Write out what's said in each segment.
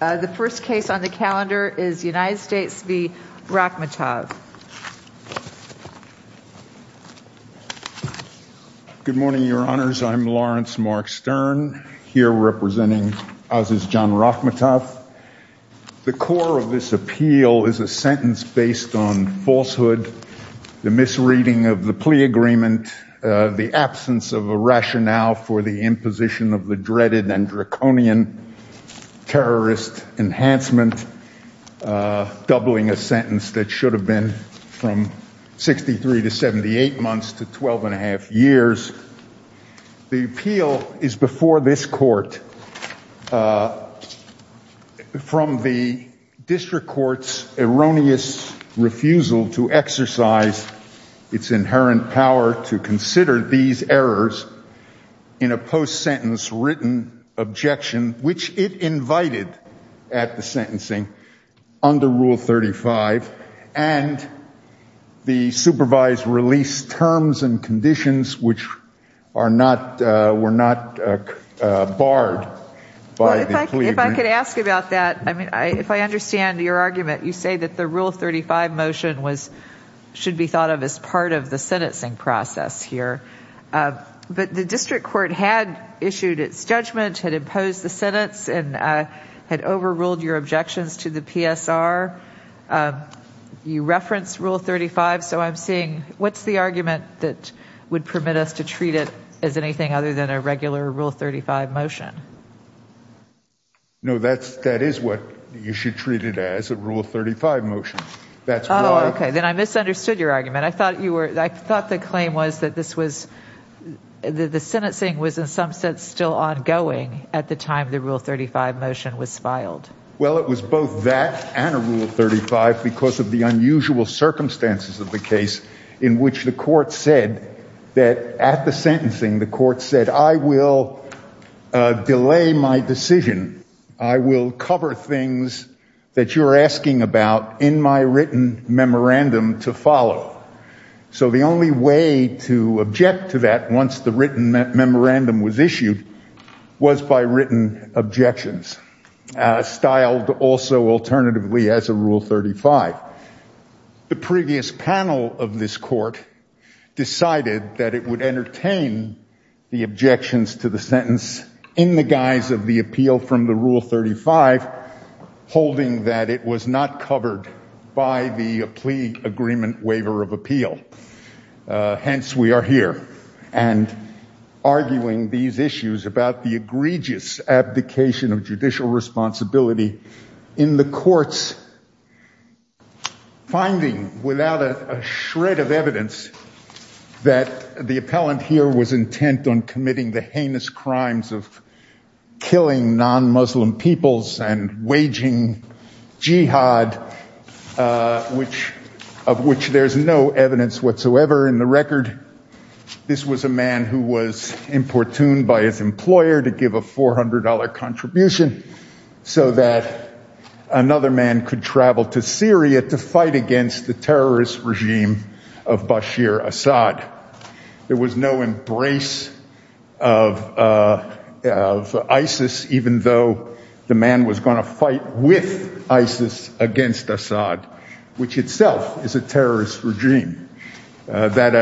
The first case on the calendar is United States v. Rakhmatov. Good morning, your honors. I'm Lawrence Mark Stern here representing Aziz John Rakhmatov. The core of this appeal is a sentence based on falsehood, the misreading of the plea agreement, the absence of a rationale for the imposition of the dreaded and draconian terrorist enhancement, doubling a sentence that should have been from 63 to 78 months to 12 and a half years. The appeal is before this court from the district court's erroneous refusal to exercise its inherent power to consider these errors in a post-sentence written objection, which it invited at the sentencing under Rule 35, and the supervised release terms and conditions which were not barred by the plea agreement. If I could ask about that, if I understand your argument, you say that the Rule 35 motion should be thought of as part of the sentencing process here, but the district court had issued its judgment, had imposed the sentence and had overruled your objections to the PSR. You referenced Rule 35, so I'm seeing, what's the argument that would permit us to treat it as anything other than a regular Rule 35 motion? No, that is what you should treat it as, a Rule 35 motion. Oh, okay, then I misunderstood your argument. I thought the claim was that this was, that the sentencing was in some sense still ongoing at the time the Rule 35 motion was filed. Well, it was both that and a Rule 35 because of the unusual circumstances of the case in which the court said that, at the sentencing, the court said, I will delay my decision. I will cover things that you're asking about in my written memorandum to follow. So the only way to object to that once the written memorandum was issued was by written objections, styled also alternatively as a Rule 35. The previous panel of this court decided that it would entertain the objections to the sentence in the guise of the appeal from the Rule 35, holding that it was not covered by the plea agreement waiver of appeal. Hence, we are here and arguing these issues about the egregious abdication of judicial responsibility in the courts, finding without a shred of evidence that the appellant here was intent on committing the heinous crimes of killing non-Muslim peoples and waging jihad, of which there's no evidence whatsoever in the record. This was a man who was importuned by his employer to give a $400 contribution so that another man could travel to Syria to fight against the terrorist regime of Bashir Assad. There was no embrace of ISIS, even though the man was going to fight with ISIS against Assad, which itself is a terrorist regime. Does that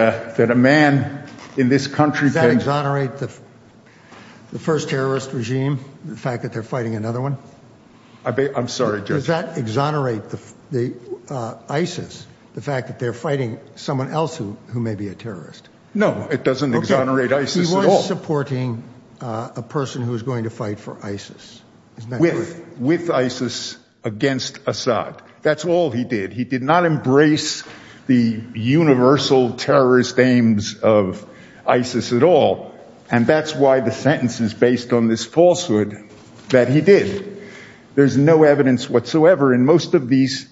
exonerate the first terrorist regime, the fact that they're fighting another one? I'm sorry, Judge. Does that exonerate ISIS, the fact that they're fighting someone else who may be a terrorist? No, it doesn't exonerate ISIS at all. He was supporting a person who was going to fight for ISIS. With ISIS against Assad. That's all he did. He did not embrace the universal terrorist aims of ISIS at all, and that's why the sentence is based on this falsehood that he did. There's no evidence whatsoever. In most of these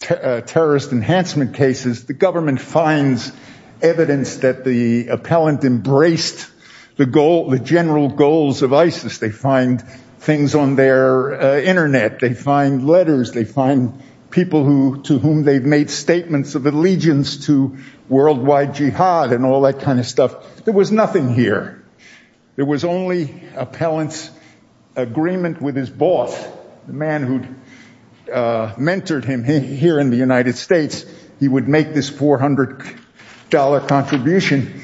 terrorist enhancement cases, the government finds evidence that the appellant embraced the general goals of ISIS. They find things on their internet. They find letters. They find people to whom they've made statements of allegiance to worldwide jihad and all that kind of stuff. There was nothing here. There was only appellant's agreement with his boss, the man who'd mentored him here in the United States. He would make this $400 contribution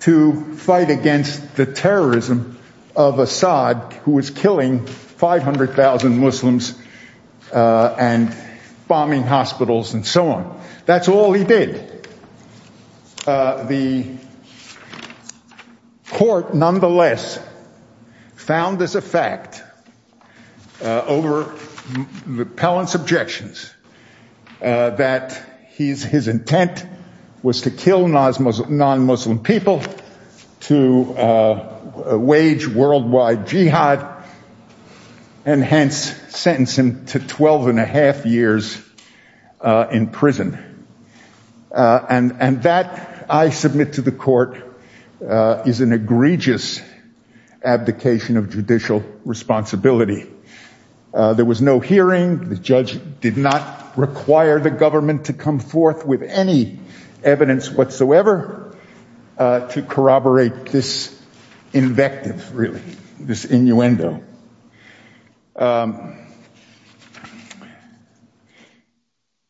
to fight against the terrorism of Assad, who was killing 500,000 Muslims and bombing hospitals and so on. That's all he did. The court nonetheless found this a fact over the appellant's objections that his intent was to kill non-Muslim people, to wage worldwide jihad, and hence sentence him to 12 and a half years in prison. And that, I submit to the court, is an egregious abdication of judicial responsibility. There was no hearing. The judge did not require the government to come forth with any evidence whatsoever to corroborate this invective, really, this innuendo.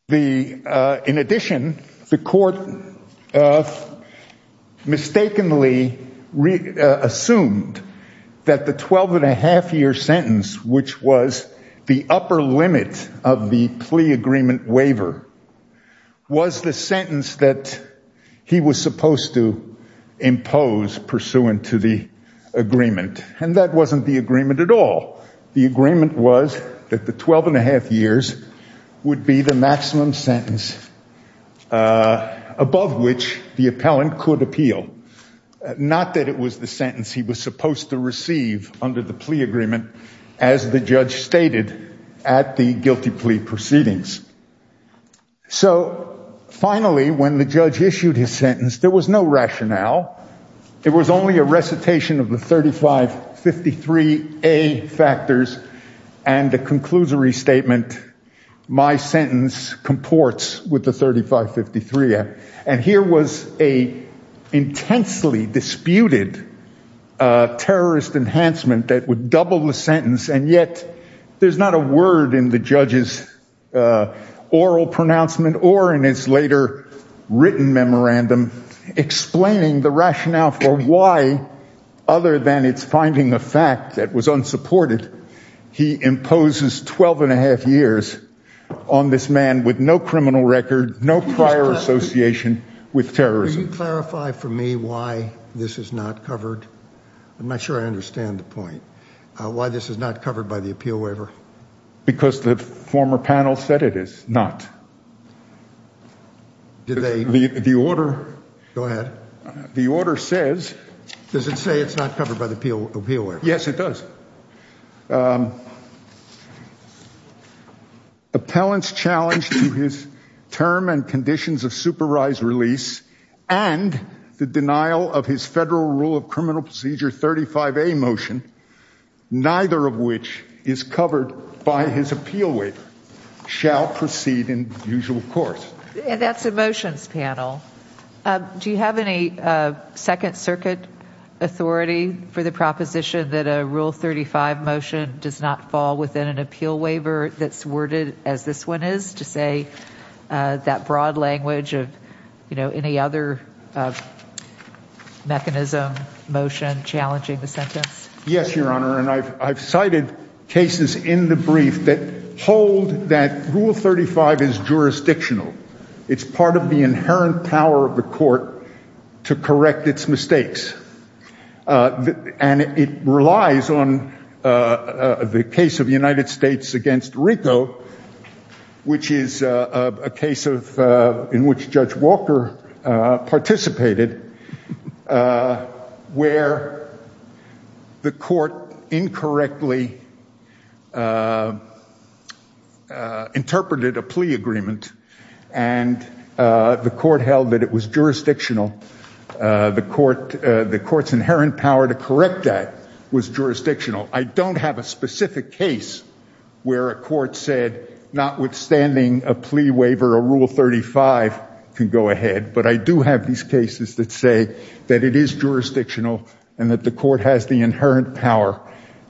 In addition, the court mistakenly assumed that the 12 and a half year sentence, which was the upper limit of the plea agreement waiver, was the sentence that he was supposed to impose pursuant to the agreement. And that wasn't the agreement at all. The agreement was that the 12 and a half years would be the maximum sentence above which the appellant could appeal. Not that it was the sentence he was supposed to receive under the plea agreement, as the judge stated at the guilty plea proceedings. So finally, when the judge issued his sentence, there was no rationale. It was only a recitation of the 3553A factors and a conclusory statement, my sentence comports with the 3553A. And here was a intensely disputed terrorist enhancement that would double the sentence. And yet, there's not a word in the judge's oral pronouncement or in his later written memorandum explaining the rationale for why, other than it's finding a fact that was unsupported, he imposes 12 and a half years on this man with no criminal record, no prior association with terrorism. Can you clarify for me why this is not covered? I'm not sure I understand the point. Why this is not covered by the appeal waiver? Because the former panel said it is not. Did they? The order... Go ahead. The order says... Does it say it's not covered by the appeal waiver? Yes, it does. Appellant's challenge to his term and conditions of supervised release and the denial of his federal rule of criminal procedure 35A motion, neither of which is covered by his appeal waiver, shall proceed in usual course. And that's a motions panel. Do you have any second circuit authority for the proposition that a rule 35 motion does not fall within an appeal waiver that's worded as this one is to say that broad language of, you know, any other mechanism, motion challenging the sentence? Yes, Your Honor. And I've cited cases in the brief that hold that rule 35 is jurisdictional. It's part of the inherent power of the court to correct its mistakes. And it relies on the case of the United States against RICO, which is a case in which Judge Walker participated, where the court incorrectly interpreted a plea agreement and the court held that it was jurisdictional. The court, the court's inherent power to correct that was jurisdictional. I don't have a specific case where a court said, notwithstanding a plea waiver, a rule 35 can go ahead. But I do have these cases that say that it is jurisdictional and that the court has inherent power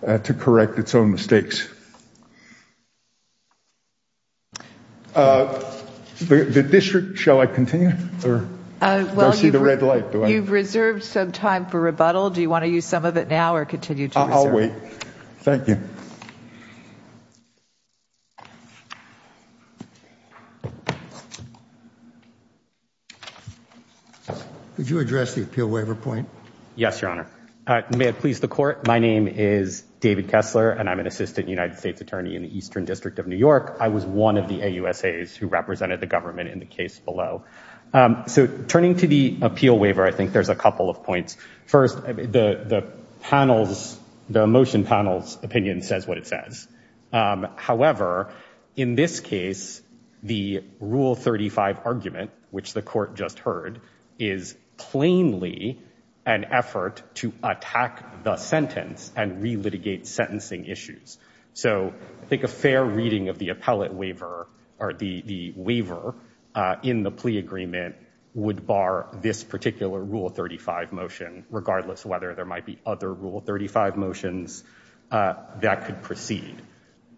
to correct its own mistakes. The district, shall I continue or do I see the red light? You've reserved some time for rebuttal. Do you want to use some of it now or continue to? I'll wait. Thank you. Could you address the appeal waiver point? Yes, Your Honor. May it please the court. My name is David Kessler, and I'm an assistant United States attorney in the Eastern District of New York. I was one of the AUSAs who represented the government in the case below. So turning to the appeal waiver, I think there's a couple of points. First, the motion panel's opinion says what it says. However, in this case, the rule 35 argument, which the court just heard, is plainly an effort to attack the sentence and relitigate sentencing issues. So I think a fair reading of the appellate waiver or the waiver in the plea agreement would bar this particular rule 35 motion, regardless whether there might be other rule 35 motions that could proceed.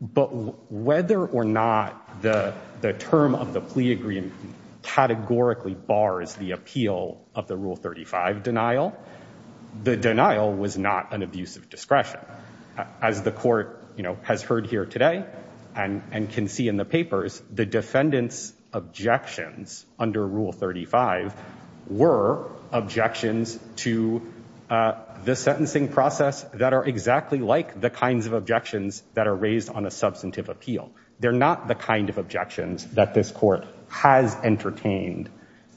But whether or not the term of the plea agreement categorically bars the appeal of the rule 35 denial, the denial was not an abuse of discretion. As the court has heard here today and can see in the papers, the defendant's objections under rule 35 were objections to the sentencing process that are exactly like the kinds of objections that are raised on a substantive appeal. They're not the kind of objections that this court has entertained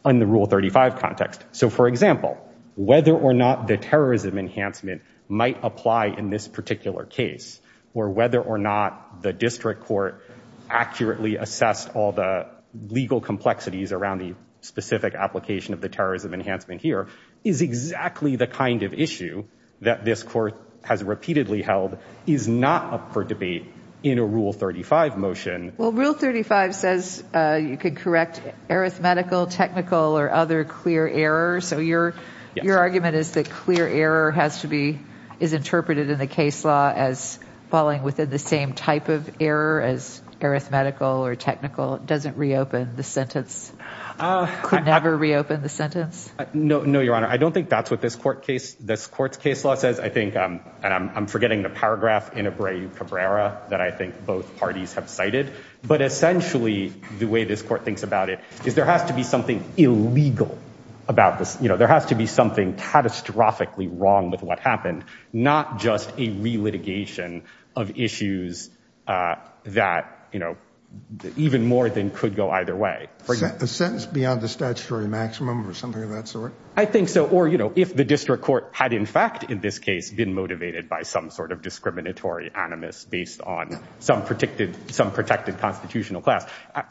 in the rule 35 context. So for example, whether or not the terrorism enhancement might apply in this particular case, or whether or not the district court accurately assessed all the legal complexities around the specific application of the terrorism enhancement here, is exactly the kind of issue that this court has repeatedly held is not up for debate in a rule 35 motion. Well, rule 35 says you could correct arithmetical, technical, or other clear errors. So your argument is that clear error has to be, is interpreted in the case law as the same type of error as arithmetical or technical doesn't reopen the sentence, could never reopen the sentence? No, no, your honor. I don't think that's what this court case, this court's case law says. I think, and I'm forgetting the paragraph in Abreu Cabrera that I think both parties have cited, but essentially the way this court thinks about it is there has to be something illegal about this. You know, there has to be something catastrophically wrong with what happened, not just a re-litigation of issues that, you know, even more than could go either way. A sentence beyond the statutory maximum or something of that sort? I think so, or you know, if the district court had in fact in this case been motivated by some sort of discriminatory animus based on some protected constitutional class,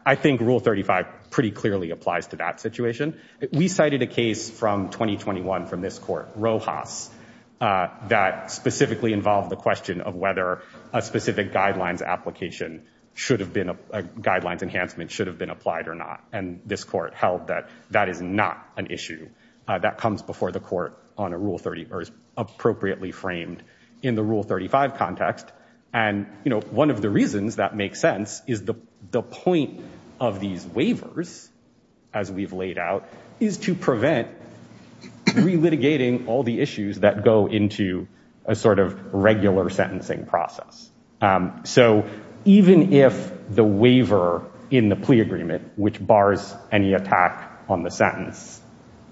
I think rule 35 pretty clearly applies to that situation. We cited a case from 2021 from this court, Rojas, that specifically involved the question of whether a specific guidelines application should have been, a guidelines enhancement should have been applied or not. And this court held that that is not an issue that comes before the court on a rule 30 or is appropriately framed in the reasons that make sense is the point of these waivers as we've laid out is to prevent re-litigating all the issues that go into a sort of regular sentencing process. So even if the waiver in the plea agreement, which bars any attack on the sentence,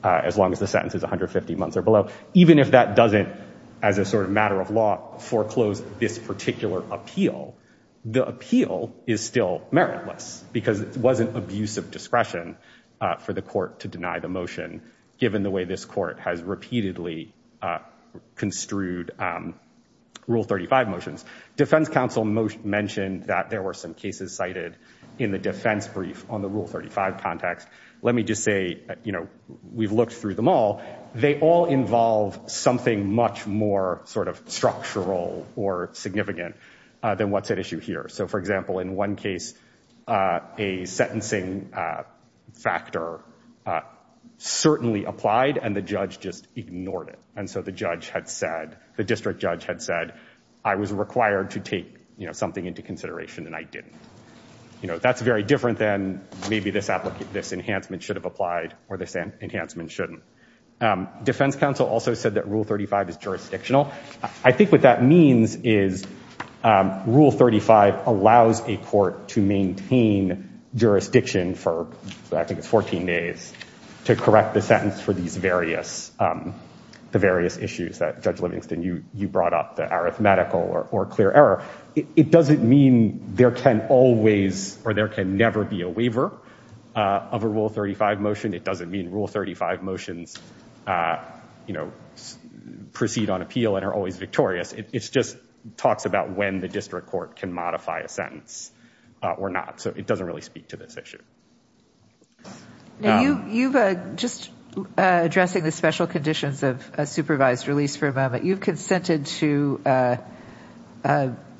as long as the sentence is 150 months or below, even if that doesn't, as a sort of matter of law, foreclose this particular appeal, the appeal is still meritless because it wasn't abusive discretion for the court to deny the motion given the way this court has repeatedly construed rule 35 motions. Defense counsel mentioned that there were some cases cited in the defense brief on the rule 35 context. Let me just say, you know, we've looked through them all. They all involve something much more structural or significant than what's at issue here. So for example, in one case, a sentencing factor certainly applied and the judge just ignored it. And so the judge had said, the district judge had said, I was required to take something into consideration and I didn't. You know, that's very different than maybe this enhancement should have applied or this is jurisdictional. I think what that means is rule 35 allows a court to maintain jurisdiction for, I think it's 14 days, to correct the sentence for these various, the various issues that Judge Livingston, you brought up, the arithmetical or clear error. It doesn't mean there can always or there can never be a waiver of a rule 35 motion. It doesn't mean rule 35 motions, you know, proceed on appeal and are always victorious. It's just talks about when the district court can modify a sentence or not. So it doesn't really speak to this issue. You've, just addressing the special conditions of a supervised release for a moment, you've consented to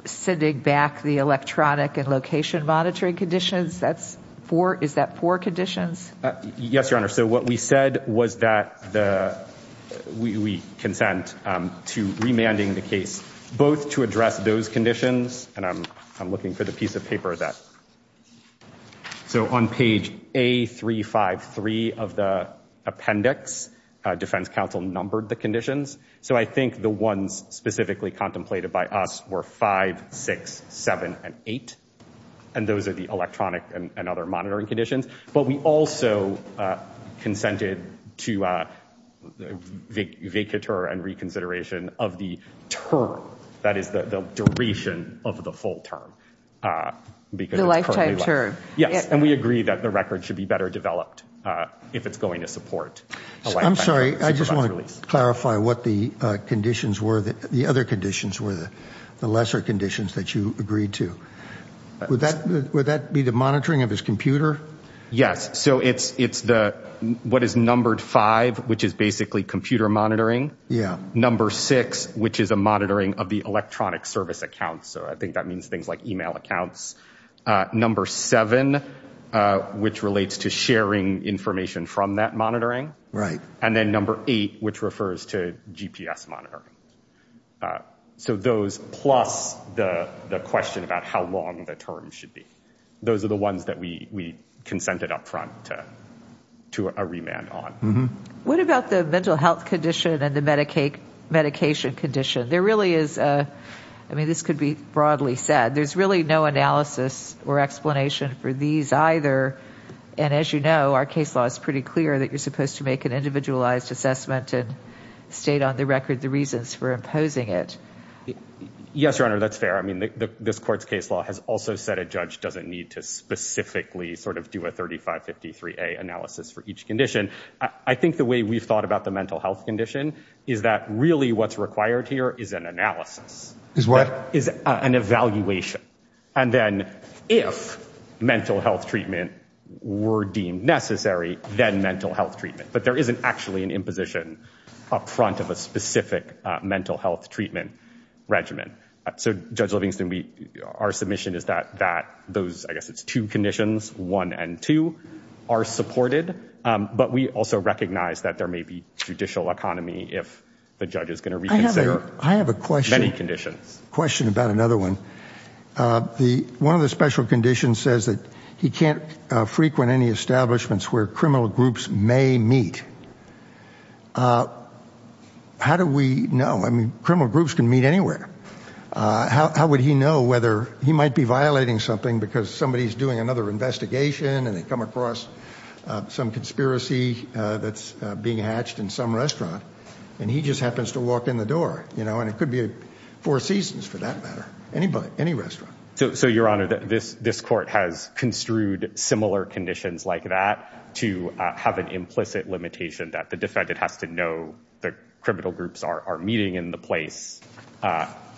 sending back the electronic and location monitoring conditions. That's four. Is that four conditions? Yes, Your Honor. So what we said was that the, we consent to remanding the case, both to address those conditions. And I'm looking for the piece of paper that, so on page A353 of the appendix, defense counsel numbered the conditions. So I think the ones specifically contemplated by us were 5, 6, 7, and 8. And those are the monitoring conditions. But we also consented to vacatur and reconsideration of the term. That is the duration of the full term. The lifetime term. Yes. And we agree that the record should be better developed if it's going to support. I'm sorry, I just want to clarify what the conditions were, the other conditions were the lesser conditions that you agreed to. Would that be the monitoring of his computer? Yes. So it's, it's the, what is numbered five, which is basically computer monitoring. Yeah. Number six, which is a monitoring of the electronic service accounts. So I think that means things like email accounts. Number seven, which relates to sharing information from that monitoring. Right. And then number eight, which refers to GPS monitoring. So those, plus the question about how long the term should be. Those are the ones that we, we consented upfront to a remand on. What about the mental health condition and the Medicaid medication condition? There really is a, I mean, this could be broadly said, there's really no analysis or explanation for these either. And as you know, our case law is pretty clear that you're supposed to make an individualized assessment and state on the record, the reasons for imposing it. Yes, your honor. That's fair. I mean, the, this court's case law has also said a judge doesn't need to specifically sort of do a 35 53 a analysis for each condition. I think the way we've thought about the mental health condition is that really what's required here is an analysis is what is an evaluation. And then if mental health treatment were deemed necessary, then mental health treatment, but there isn't actually an imposition up front of a specific mental health treatment regimen. So judge Livingston, we, our submission is that, that those, I guess it's two conditions, one and two are supported. But we also recognize that there may be judicial economy. If the judge is going to reconsider, I have a question, many conditions question about another one. The, one of the special conditions says that he can't frequent any establishments where criminal groups may meet. How do we know? I mean, criminal groups can meet anywhere. How, how would he know whether he might be violating something because somebody is doing another investigation and they come across some conspiracy that's being hatched in some restaurant and he just happens to walk in the door, you know, and it could be four seasons for that matter. Anybody, any restaurant. So, so your honor, this, this court has construed similar conditions like that to have an implicit limitation that the defendant has to know the criminal groups are meeting in the place.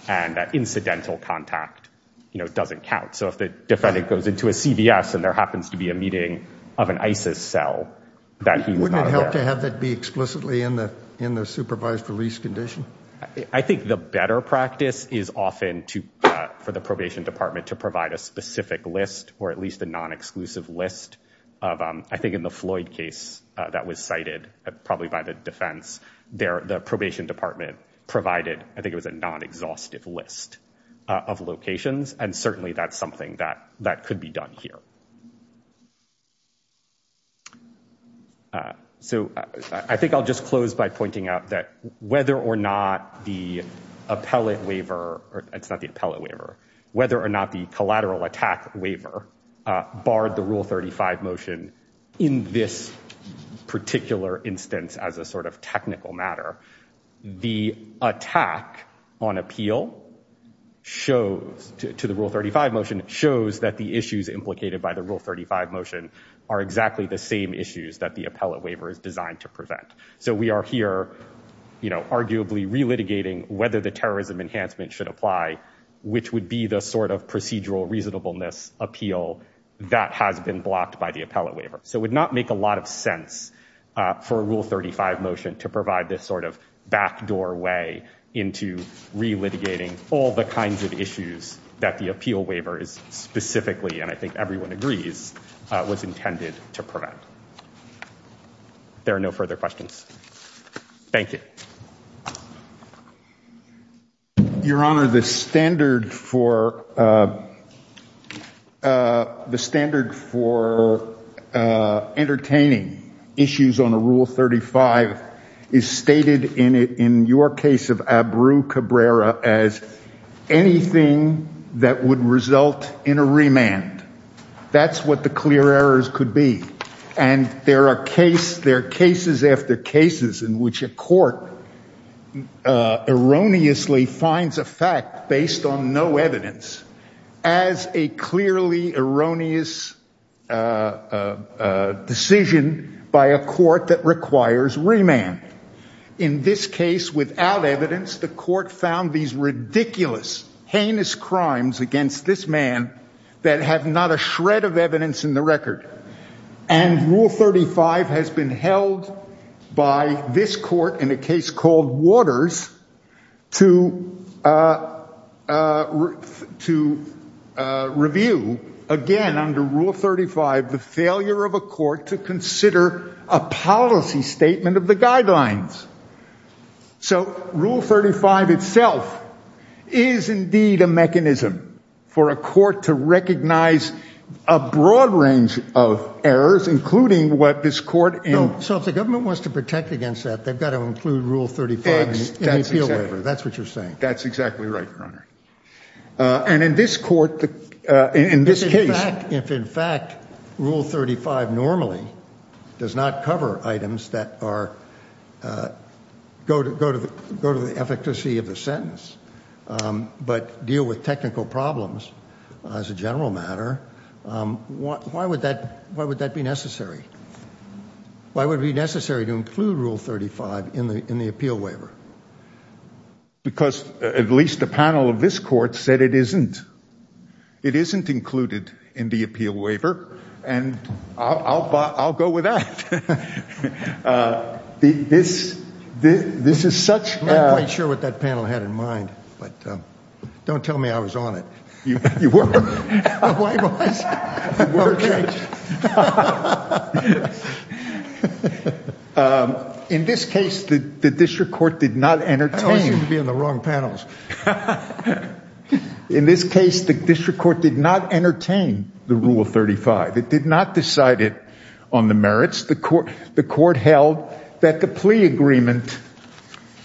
And that incidental contact, you know, doesn't count. So if the defendant goes into a CVS and there happens to be a meeting of an ISIS cell that he would not have to have that be explicitly in the, in the supervised release condition. I think the better practice is often to, for the probation department to provide a specific list or at least a non-exclusive list of, I think in the Floyd case that was cited probably by the defense there, the probation department provided, I think it was a non-exhaustive list of locations. And certainly that's something that, that could be done here. So I think I'll just close by pointing out that whether or not the appellate waiver or it's not the appellate waiver, whether or not the collateral attack waiver barred the rule 35 motion in this particular instance, as a sort of technical matter, the attack on appeal shows to the rule 35 motion shows that the issues implicated by the rule 35 motion are exactly the same issues that the appellate waiver is designed to prevent. So we are here, you know, arguably relitigating whether the terrorism enhancement should apply, which would be the sort of procedural reasonableness appeal that has been blocked by the appellate waiver. So it would not make a lot of sense for a rule 35 motion to provide this sort of backdoor way into relitigating all the kinds of issues that the appeal waiver is specifically, and I think everyone agrees, was intended to prevent. There are no further questions. Thank you. Your Honor, the standard for, the standard for entertaining issues on a rule 35 is stated in your case of Abreu Cabrera as anything that would result in a remand. That's what the clear errors could be. And there are cases, there are cases after cases in which a court erroneously finds a fact based on no evidence as a clearly erroneous decision by a court that requires remand. In this case, without evidence, the court found these ridiculous, heinous crimes against this man that have not a shred of evidence in the record. And rule 35 has been held by this court in a case called Waters to review, again under rule 35, the failure of a court to consider a policy statement of the guidelines. So rule 35 itself is indeed a mechanism for a court to recognize a broad range of errors, including what this court No, so if the government wants to protect against that, they've got to include rule 35 in the appeal waiver. That's what you're saying. That's exactly right, Your Honor. And in this court, in this case If in fact, rule 35 normally does not cover items that go to the efficacy of the sentence, but deal with technical problems as a general matter, why would that be necessary? Why would it be necessary to include rule 35 in the appeal waiver? Because at least the panel of this court said it isn't. It isn't included in the appeal waiver, and I'll go with that. This is such... I'm not quite sure what that panel had in mind, but don't tell me I was on it. You were. In this case, the district court did not entertain... I always seem to be on the wrong panels. In this case, the district court did not entertain the rule 35. It did not decide it on the merits. The court held that the plea agreement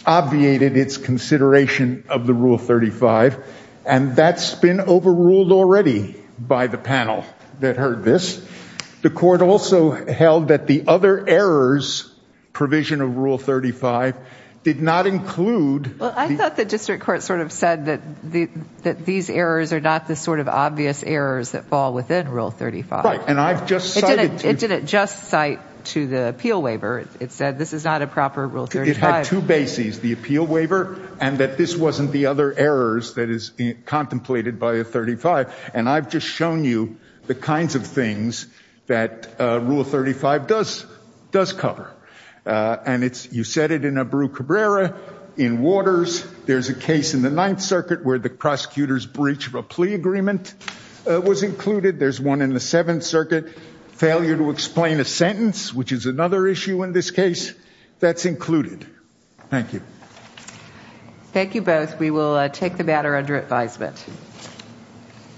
obviated its consideration of the rule 35, and that's been overruled already by the panel that heard this. The court also held that the other errors provision of rule 35 did not include... Well, I thought the district court sort of said that these errors are not the sort of obvious errors that fall within rule 35. It didn't just cite to the appeal waiver. It said this is not a proper rule 35. It had two bases, the appeal waiver, and that this wasn't the other errors that is contemplated by a 35, and I've just shown you the kinds of things that rule 35 does cover, and you said it in Abreu Cabrera, in Waters. There's a case in the Ninth Circuit where the prosecutor's breach of a plea agreement was included. There's one in the Seventh Circuit, failure to explain a sentence, which is another issue in this case. That's included. Thank you. Thank you both. We will take the matter under advisement.